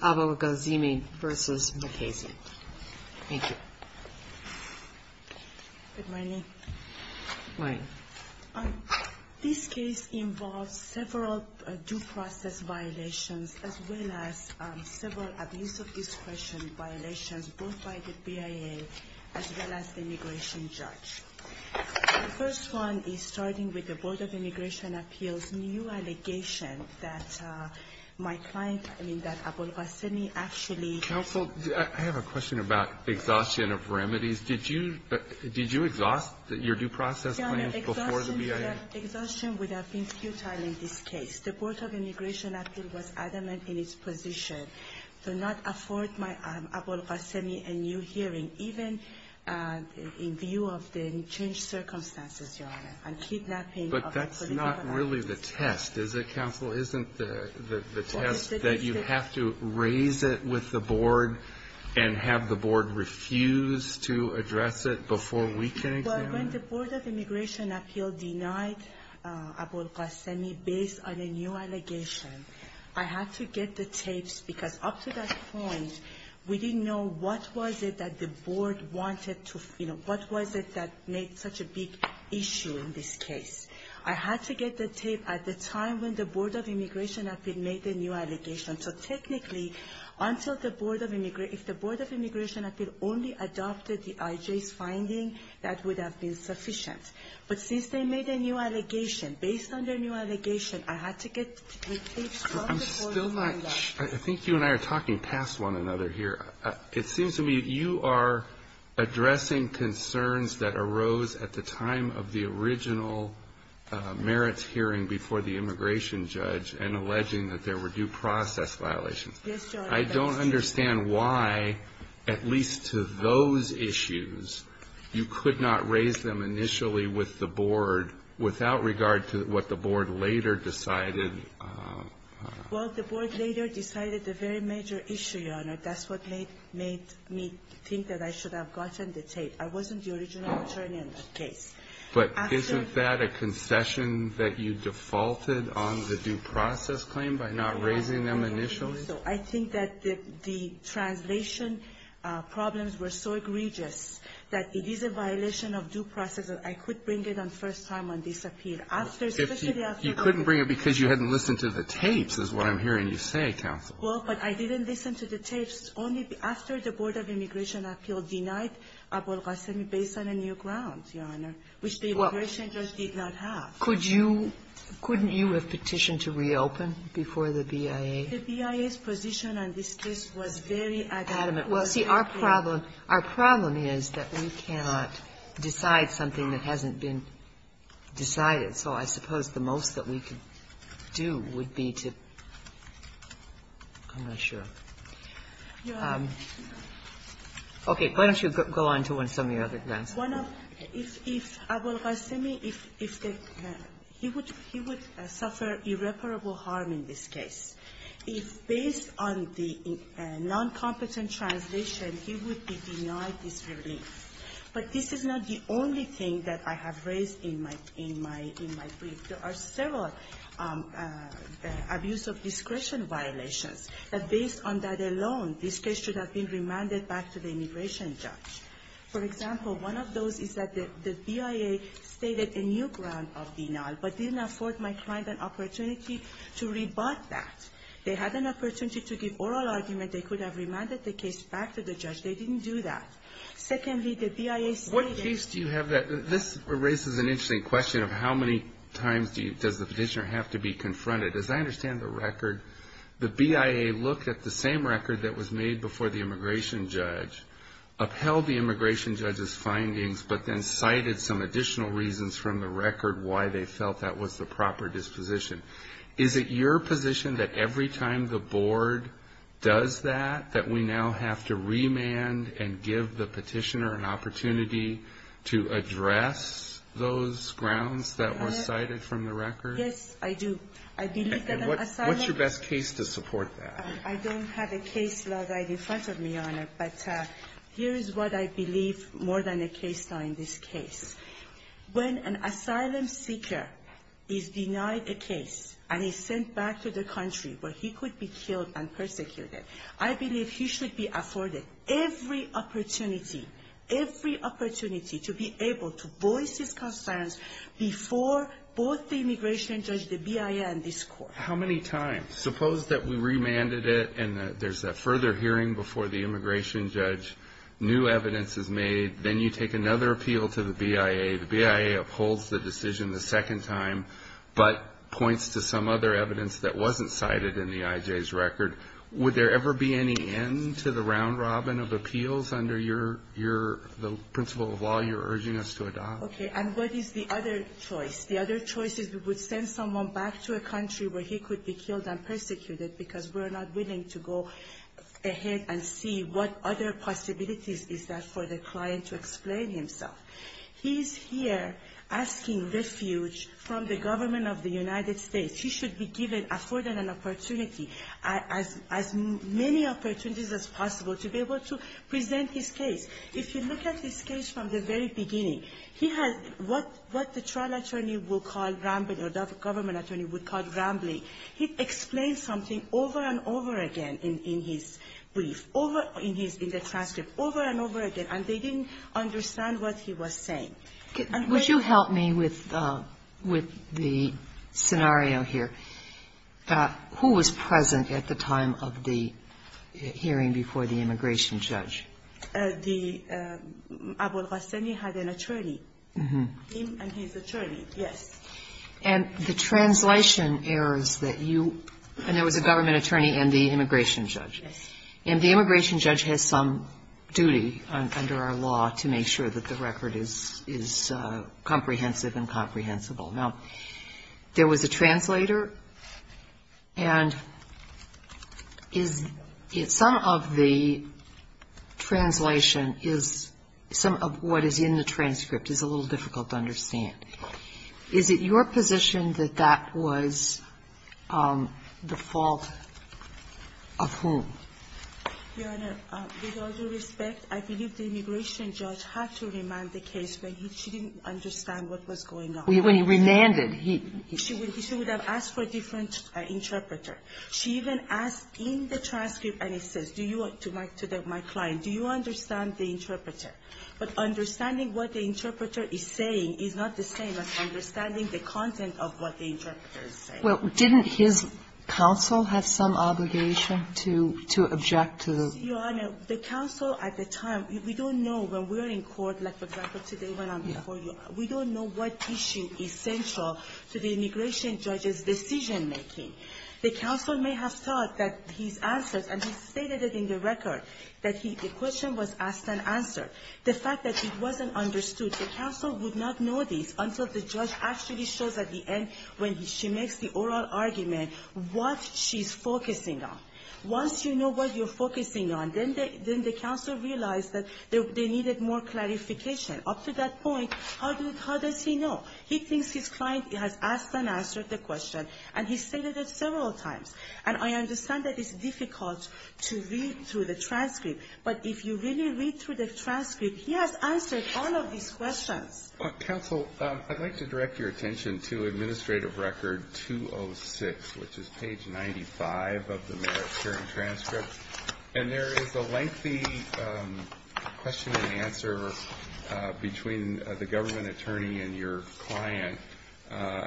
Thank you. Good morning. This case involves several due process violations as well as several abuse of discretion violations both by the BIA as well as the immigration judge. The first one is starting with the Board of Immigration Appeals new allegation that my client, I mean, that Abolghasemi actually Counsel, I have a question about exhaustion of remedies. Did you exhaust your due process claims before the BIA? Exhaustion would have been futile in this case. The Board of Immigration Appeals was adamant in its position to not afford Abolghasemi a new hearing even in view of the changed circumstances, Your Honor, and kidnapping of a political activist. But that's not really the test, is it, Counsel? Isn't the test that you have to raise it with the Board and have the Board refuse to address it before we can examine it? Well, when the Board of Immigration Appeals denied Abolghasemi based on a new allegation, I had to get the tapes because up to that point, we didn't know what was it that the Board wanted to, you know, what was it that made such a big issue in this case. I had to get the tape at the time when the Board of Immigration Appeals made the new allegation. So technically, if the Board of Immigration Appeals only adopted the IJ's finding, that would have been sufficient. But since they made a new allegation, based on their new allegation, I had to get the tapes from the Board of Immigration Appeals. I'm still not sure. I think you and I are talking past one another here. It seems to me you are addressing concerns that arose at the time of the original merits hearing before the immigration judge and alleging that there were due process violations. Yes, Your Honor. I don't understand why, at least to those issues, you could not raise them initially with the Board without regard to what the Board later decided. Well, the Board later decided the very major issue, Your Honor. That's what made me think that I should have gotten the tape. I wasn't the original attorney in that case. But isn't that a concession that you defaulted on the due process claim by not raising them initially? So I think that the translation problems were so egregious that it is a violation of due process that I could bring it on first time on this appeal. You couldn't bring it because you hadn't listened to the tapes, is what I'm hearing you say, counsel. Well, but I didn't listen to the tapes only after the Board of Immigration Appeals denied Abol Ghasemi based on a new ground, Your Honor, which the immigration judge did not have. Could you – couldn't you have petitioned to reopen before the BIA? The BIA's position on this case was very adamant. Well, see, our problem – our problem is that we cannot decide something that hasn't been decided. So I suppose the most that we could do would be to – I'm not sure. Your Honor. Okay. Why don't you go on to some of your other grounds. One of – if Abol Ghasemi, if the – he would suffer irreparable harm in this case. If based on the noncompetent translation, he would be denied this relief. But this is not the only thing that I have raised in my – in my brief. There are several abuse of discretion violations that based on that alone, this case should have been remanded back to the immigration judge. For example, one of those is that the BIA stated a new ground of denial, but didn't afford my client an opportunity to rebut that. They had an opportunity to give oral argument. They could have remanded the case back to the judge. They didn't do that. Secondly, the BIA stated – What case do you have that – this raises an interesting question of how many times does the petitioner have to be confronted. As I understand the record, the BIA looked at the same record that was made before the immigration judge, upheld the immigration judge's findings, but then cited some additional reasons from the record why they felt that was the proper disposition. Is it your position that every time the board does that, that we now have to remand and give the petitioner an opportunity to address those grounds that were cited from the record? Yes, I do. I believe that an asylum – And what's your best case to support that? I don't have a case law right in front of me, Your Honor, but here is what I believe more than a case law in this case. When an asylum seeker is denied a case and is sent back to the country where he could be killed and persecuted, I believe he should be afforded every opportunity, every opportunity, to be able to voice his concerns before both the immigration judge, the BIA, and this court. How many times? Suppose that we remanded it and there's a further hearing before the immigration judge, new evidence is made, then you take another appeal to the BIA, the BIA upholds the decision the second time, but points to some other evidence that wasn't cited in the IJ's record. Would there ever be any end to the round-robin of appeals under the principle of law you're urging us to adopt? Okay, and what is the other choice? The other choice is we would send someone back to a country where he could be killed and persecuted because we're not willing to go ahead and see what other possibilities is there for the client to explain himself. He's here asking refuge from the government of the United States. He should be given, afforded an opportunity, as many opportunities as possible to be able to present his case. If you look at his case from the very beginning, he has what the trial attorney will call rambling or the government attorney would call rambling. He explains something over and over again in his brief, over in his transcript, over and over again, and they didn't understand what he was saying. And when you help me with the scenario here, who was present at the time of the hearing before the immigration judge? The ---- had an attorney, him and his attorney, yes. And the translation errors that you ---- and there was a government attorney and the immigration judge. Yes. And the immigration judge has some duty under our law to make sure that the record is comprehensive and comprehensible. Now, there was a translator, and is ---- some of the translation is ---- some of what is in the transcript is a little difficult to understand. Is it your position that that was the fault of whom? Your Honor, with all due respect, I believe the immigration judge had to remind the case, but he didn't understand what was going on. When he remanded, he ---- She would have asked for a different interpreter. She even asked in the transcript, and it says, to my client, do you understand the interpreter? But understanding what the interpreter is saying is not the same as understanding the content of what the interpreter is saying. Well, didn't his counsel have some obligation to object to the ---- Your Honor, the counsel at the time, we don't know when we're in court, like, for example, we don't know what issue is central to the immigration judge's decision-making. The counsel may have thought that his answers, and he stated it in the record, that the question was asked and answered. The fact that it wasn't understood, the counsel would not know this until the judge actually shows at the end, when she makes the oral argument, what she's focusing on. Once you know what you're focusing on, then the counsel realized that they needed more clarification. Up to that point, how does he know? He thinks his client has asked and answered the question, and he stated it several times. And I understand that it's difficult to read through the transcript, but if you really read through the transcript, he has answered all of these questions. Counsel, I'd like to direct your attention to Administrative Record 206, which is page 95 of the Merit-Bearing Transcript. And there is a lengthy question and answer between the government attorney and your client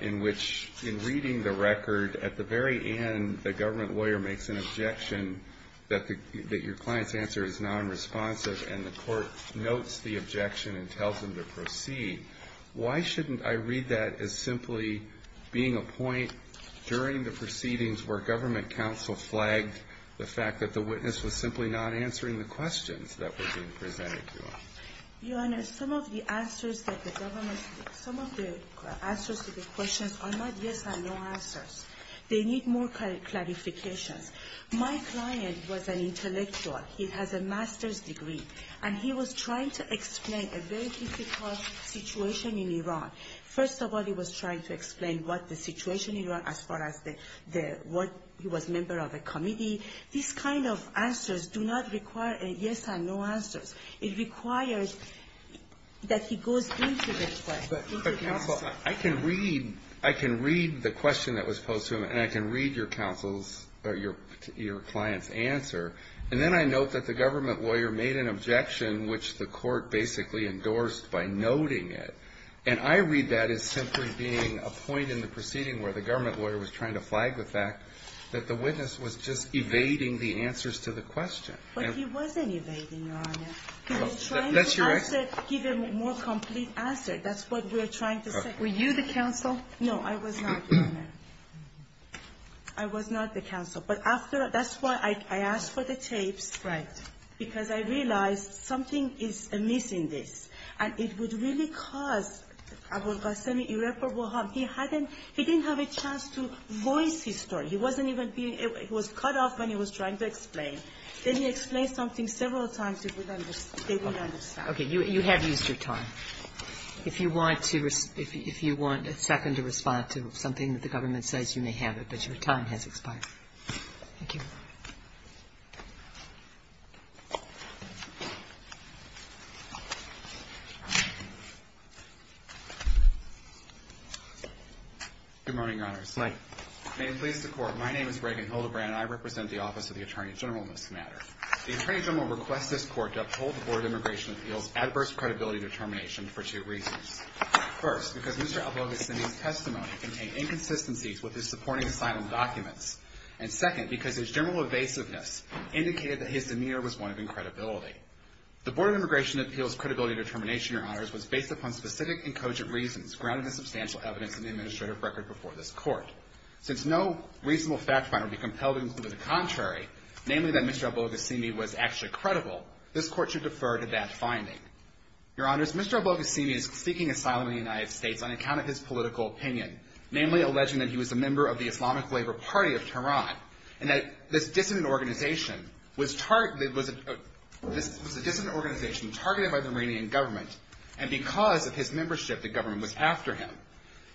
in which, in reading the record, at the very end, the government lawyer makes an objection that your client's answer is nonresponsive, and the court notes the objection and tells him to proceed. Why shouldn't I read that as simply being a point during the proceedings where government counsel flagged the fact that the witness was simply not answering the questions that were being presented to him? You Honor, some of the answers that the government ---- some of the answers to the questions are not yes and no answers. They need more clarifications. My client was an intellectual. He has a master's degree, and he was trying to explain a very difficult situation in Iran. First of all, he was trying to explain what the situation in Iran as far as the ---- what ---- he was a member of a committee. These kind of answers do not require a yes and no answers. It requires that he goes into the question. But, counsel, I can read the question that was posed to him, and I can read your counsel's or your client's answer. And then I note that the government lawyer made an objection which the court basically endorsed by noting it. And I read that as simply being a point in the proceeding where the government lawyer was trying to flag the fact that the witness was just evading the answers to the question. But he wasn't evading, Your Honor. He was trying to answer, give a more complete answer. That's what we're trying to say. Were you the counsel? No, I was not. I was not the counsel. But after ---- that's why I asked for the tapes. Right. Because I realized something is amiss in this. And it would really cause ---- he didn't have a chance to voice his story. He wasn't even being ---- he was cut off when he was trying to explain. Then he explained something several times, they would understand. Okay. You have used your time. If you want to ---- if you want a second to respond to something that the government says, you may have it. But your time has expired. Thank you. Good morning, Your Honors. Good morning. May it please the Court, my name is Reagan Hildebrand, and I represent the Office of the Attorney General in this matter. The Attorney General requests this Court to uphold the Board of Immigration Appeals' adverse credibility determination for two reasons. First, because Mr. Albolga's testimony contained inconsistencies with his supporting asylum documents. And second, because his general evasiveness indicated that his demeanor was one of incredibility. The Board of Immigration Appeals' credibility determination, Your Honors, was based upon specific and cogent reasons, grounded in substantial evidence in the administrative record before this Court. Since no reasonable fact finder would be compelled to conclude the contrary, namely that Mr. Albolga Simi was actually credible, this Court should defer to that finding. Your Honors, Mr. Albolga Simi is seeking asylum in the United States on account of his political opinion, namely alleging that he was a member of the Islamic Labor Party of Tehran, and that this dissident organization was targeted by the Iranian government, and because of his membership, the government was after him.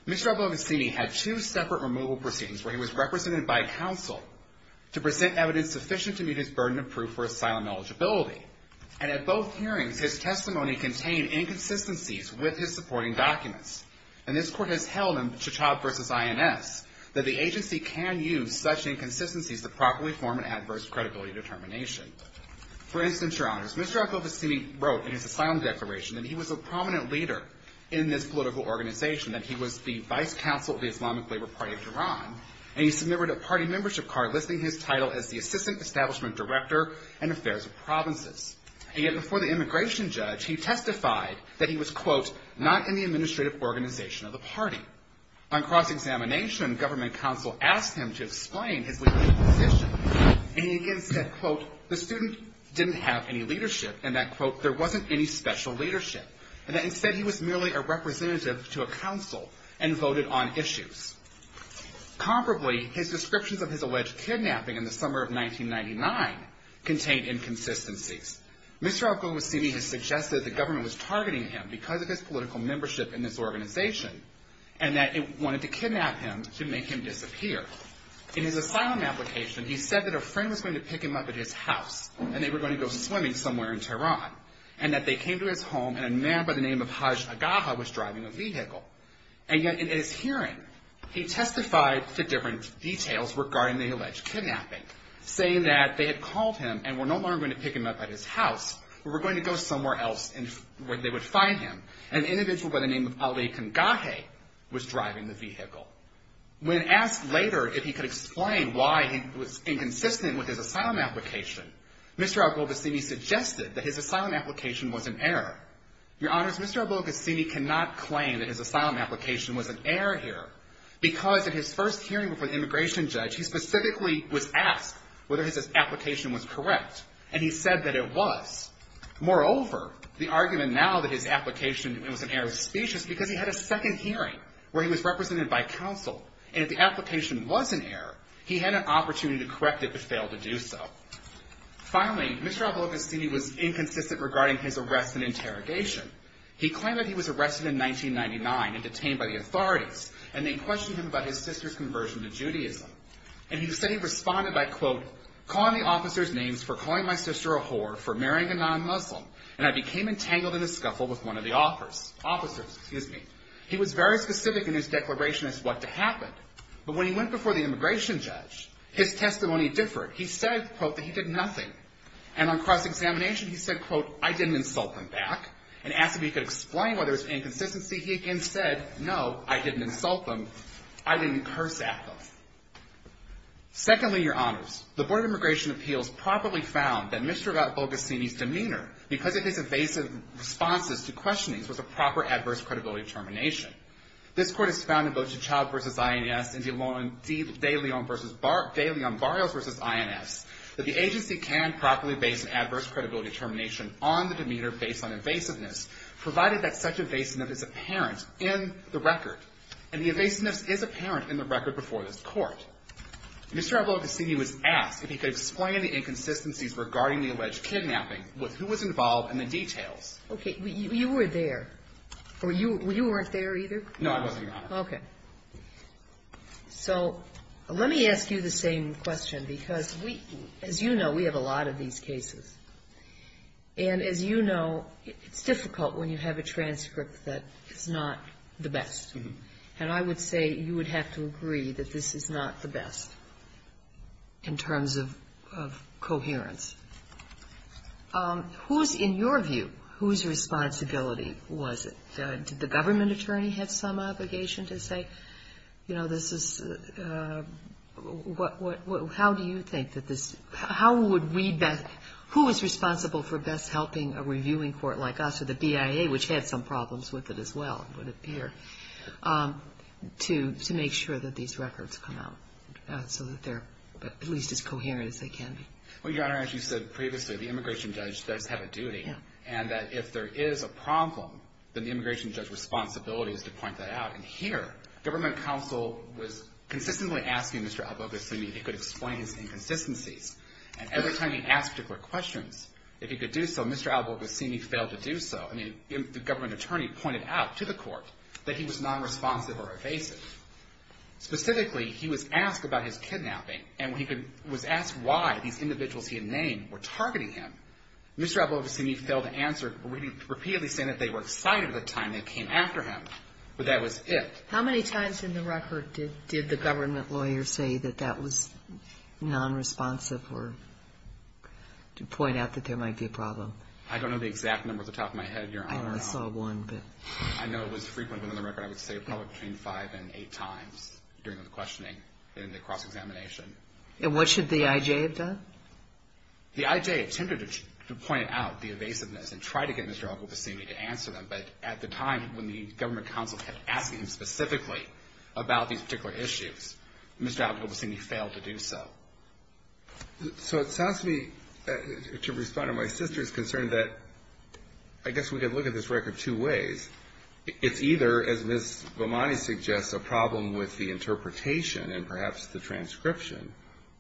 Mr. Albolga Simi had two separate removal proceedings where he was represented by counsel to present evidence sufficient to meet his burden of proof for asylum eligibility. And at both hearings, his testimony contained inconsistencies with his supporting documents. And this Court has held in Chachab v. INS that the agency can use such inconsistencies to properly form an adverse credibility determination. For instance, Your Honors, Mr. Albolga Simi wrote in his asylum declaration that he was a prominent leader in this political organization, that he was the vice counsel of the Islamic Labor Party of Tehran, and he submitted a party membership card listing his title as the Assistant Establishment Director in Affairs of Provinces. And yet before the immigration judge, he testified that he was, quote, not in the administrative organization of the party. On cross-examination, government counsel asked him to explain his leadership position, and he again said, quote, the student didn't have any leadership, and that, quote, there wasn't any special leadership, and that, instead, he was merely a representative to a council and voted on issues. Comparably, his descriptions of his alleged kidnapping in the summer of 1999 contained inconsistencies. Mr. Albolga Simi has suggested that the government was targeting him because of his political membership in this organization, and that it wanted to kidnap him to make him disappear. In his asylum application, he said that a friend was going to pick him up at his house, and they were going to go swimming somewhere in Tehran, and that they came to his home, and a man by the name of Hajj Agaha was driving a vehicle. And yet, in his hearing, he testified to different details regarding the alleged kidnapping, saying that they had called him and were no longer going to pick him up at his house, but were going to go somewhere else where they would find him, and an individual by the name of Ali Kangahe was driving the vehicle. When asked later if he could explain why he was inconsistent with his asylum application, Mr. Albolga Simi suggested that his asylum application was an error. Your Honors, Mr. Albolga Simi cannot claim that his asylum application was an error here because at his first hearing before the immigration judge, he specifically was asked whether his application was correct, and he said that it was. Moreover, the argument now that his application was an error of speech is because he had a second hearing where he was represented by counsel, and if the application was an error, he had an opportunity to correct it but failed to do so. Finally, Mr. Albolga Simi was inconsistent regarding his arrest and interrogation. He claimed that he was arrested in 1999 and detained by the authorities, and they questioned him about his sister's conversion to Judaism. And he said he responded by, quote, calling the officers' names for calling my sister a whore for marrying a non-Muslim, and I became entangled in a scuffle with one of the officers. He was very specific in his declaration as what to happen, but when he went before the immigration judge, his testimony differed. He said, quote, that he did nothing. And on cross-examination, he said, quote, I didn't insult them back, and asked if he could explain why there was inconsistency. He again said, no, I didn't insult them. I didn't curse at them. Secondly, Your Honors, the Board of Immigration Appeals properly found that Mr. Albolga Simi's demeanor, because of his evasive responses to questionings, was a proper adverse credibility termination. This court has found in both T'Chall v. INS and De Leon Barrios v. INS that the agency can properly base an adverse credibility termination on the demeanor based on evasiveness, provided that such evasiveness is apparent in the record. And the evasiveness is apparent in the record before this court. Mr. Albolga Simi was asked if he could explain the inconsistencies regarding the alleged kidnapping with who was involved and the details. Okay. You were there. Or you weren't there either? No, I wasn't, Your Honor. Okay. So let me ask you the same question, because we, as you know, we have a lot of these cases. And as you know, it's difficult when you have a transcript that is not the best. And I would say you would have to agree that this is not the best in terms of coherence. Who is, in your view, whose responsibility was it? Did the government attorney have some obligation to say, you know, this is the – how do you think that this – how would we best – who was responsible for best helping a reviewing court like us or the BIA, which had some problems with it as well, would appear, to make sure that these records come out so that they're at least as coherent as they can be? Well, Your Honor, as you said previously, the immigration judge does have a duty. Yeah. And that if there is a problem, then the immigration judge's responsibility is to point that out. And here, government counsel was consistently asking Mr. Albolga Simi if he could explain his inconsistencies. And every time he asked particular questions, if he could do so, Mr. Albolga Simi failed to do so. I mean, the government attorney pointed out to the court that he was nonresponsive or evasive. Specifically, he was asked about his kidnapping, and he was asked why these individuals he had named were targeting him. Mr. Albolga Simi failed to answer, repeatedly saying that they were excited at the time they came after him, but that was it. How many times in the record did the government lawyer say that that was nonresponsive or to point out that there might be a problem? I don't know the exact number off the top of my head, Your Honor. I saw one. I know it was frequent, but on the record, I would say probably between five and eight times during the questioning in the cross-examination. And what should the I.J. have done? The I.J. intended to point out the evasiveness and try to get Mr. Albolga Simi to answer them, but at the time when the government counsel had asked him specifically about these particular issues, Mr. Albolga Simi failed to do so. So it sounds to me, to respond to my sister's concern, that I guess we could look at this record two ways. It's either, as Ms. Vamani suggests, a problem with the interpretation and perhaps the transcription,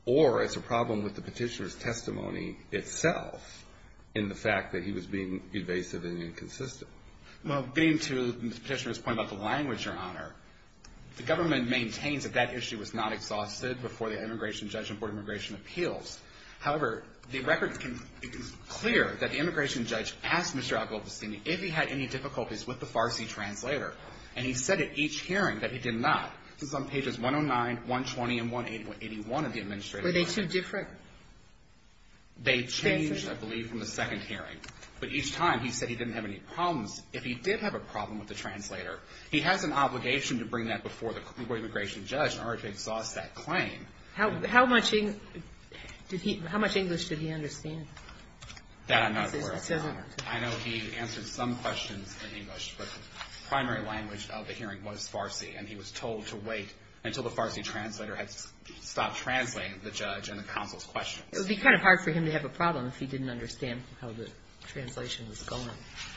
or it's a problem with the petitioner's testimony itself in the fact that he was being evasive and inconsistent. Well, getting to the petitioner's point about the language, Your Honor, the government maintains that that issue was not exhausted before the immigration judge and board of immigration appeals. However, the record is clear that the immigration judge asked Mr. Albolga Simi if he had any difficulties with the Farsi translator, and he said at each hearing that he did not. This is on pages 109, 120, and 181 of the administrative document. Were they two different? They changed, I believe, from the second hearing. But each time, he said he didn't have any problems. If he did have a problem with the translator, he has an obligation to bring that before the immigration judge in order to exhaust that claim. How much English did he understand? That I'm not aware of, Your Honor. I know he answered some questions in English, but the primary language of the hearing was Farsi, and he was told to wait until the Farsi translator had stopped translating the judge and the counsel's questions. It would be kind of hard for him to have a problem if he didn't understand how the translation was going.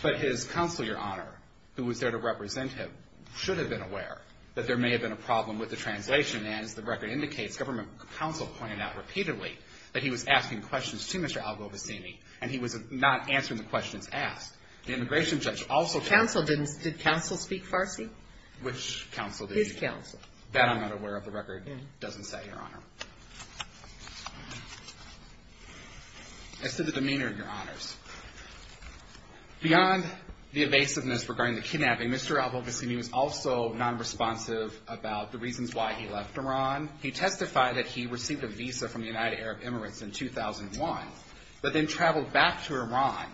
But his counsel, Your Honor, who was there to represent him, should have been aware that there may have been a problem with the translation, and as the record indicates, government counsel pointed out repeatedly that he was asking questions to Mr. Albolga Simi, and he was not answering the questions asked. The immigration judge also told him. Counsel? Did counsel speak Farsi? Which counsel? His counsel. That I'm not aware of, the record doesn't say, Your Honor. As to the demeanor, Your Honors, beyond the evasiveness regarding the kidnapping, Mr. Albolga Simi was also nonresponsive about the reasons why he left Iran. He testified that he received a visa from the United Arab Emirates in 2001, but then traveled back to Iran.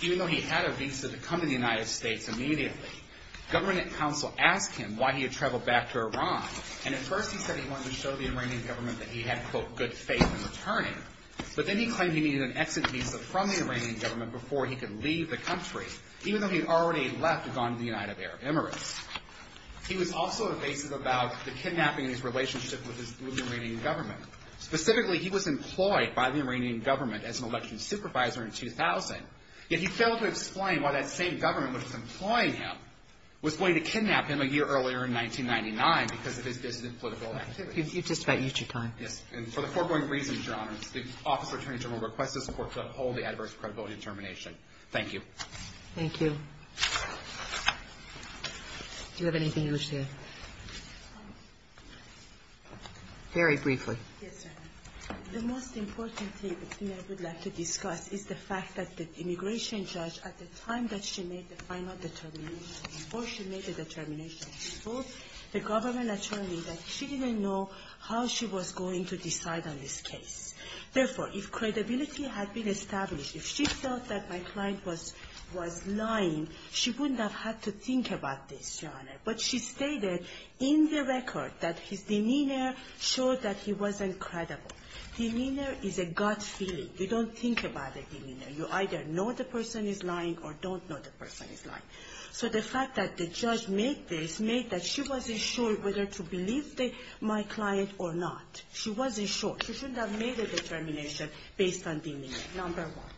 Even though he had a visa to come to the United States immediately, government counsel asked him why he had traveled back to Iran, and at first he said he wanted to show the Iranian government that he had, quote, good faith in returning, but then he claimed he needed an exit visa from the Iranian government before he could leave the country, even though he had already left and gone to the United Arab Emirates. He was also evasive about the kidnapping and his relationship with the Iranian government. Specifically, he was employed by the Iranian government as an election supervisor in 2000, yet he failed to explain why that same government which was employing him was going to kidnap him a year earlier in 1999 because of his dissident political activities. You've just about used your time. Yes. And for the foregoing reasons, Your Honors, the Office of Attorney General requests this Court to uphold the adverse credibility determination. Thank you. Thank you. Do you have anything you wish to add? Very briefly. Yes, Your Honor. The most important thing I would like to discuss is the fact that the immigration judge, at the time that she made the final determination, or she made the final determination, she told the government attorney that she didn't know how she was going to decide on this case. Therefore, if credibility had been established, if she felt that my client was lying, she wouldn't have had to think about this, Your Honor. But she stated in the record that his demeanor showed that he wasn't credible. Demeanor is a gut feeling. You don't think about the demeanor. So the fact that the judge made this made that she wasn't sure whether to believe my client or not. She wasn't sure. She shouldn't have made a determination based on demeanor, number one.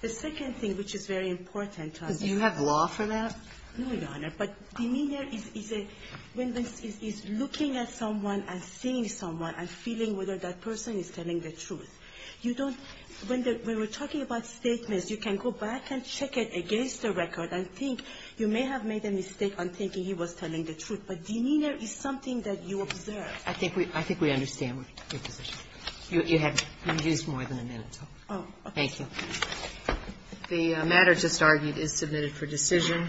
The second thing, which is very important to us to do. Do you have law for that? No, Your Honor. But demeanor is a – when this is looking at someone and seeing someone and feeling whether that person is telling the truth. You don't – when we're talking about statements, you can go back and check it against the record and think you may have made a mistake on thinking he was telling the truth. But demeanor is something that you observe. I think we – I think we understand your position. You have used more than a minute. Oh, okay. Thank you. The matter just argued is submitted for decision.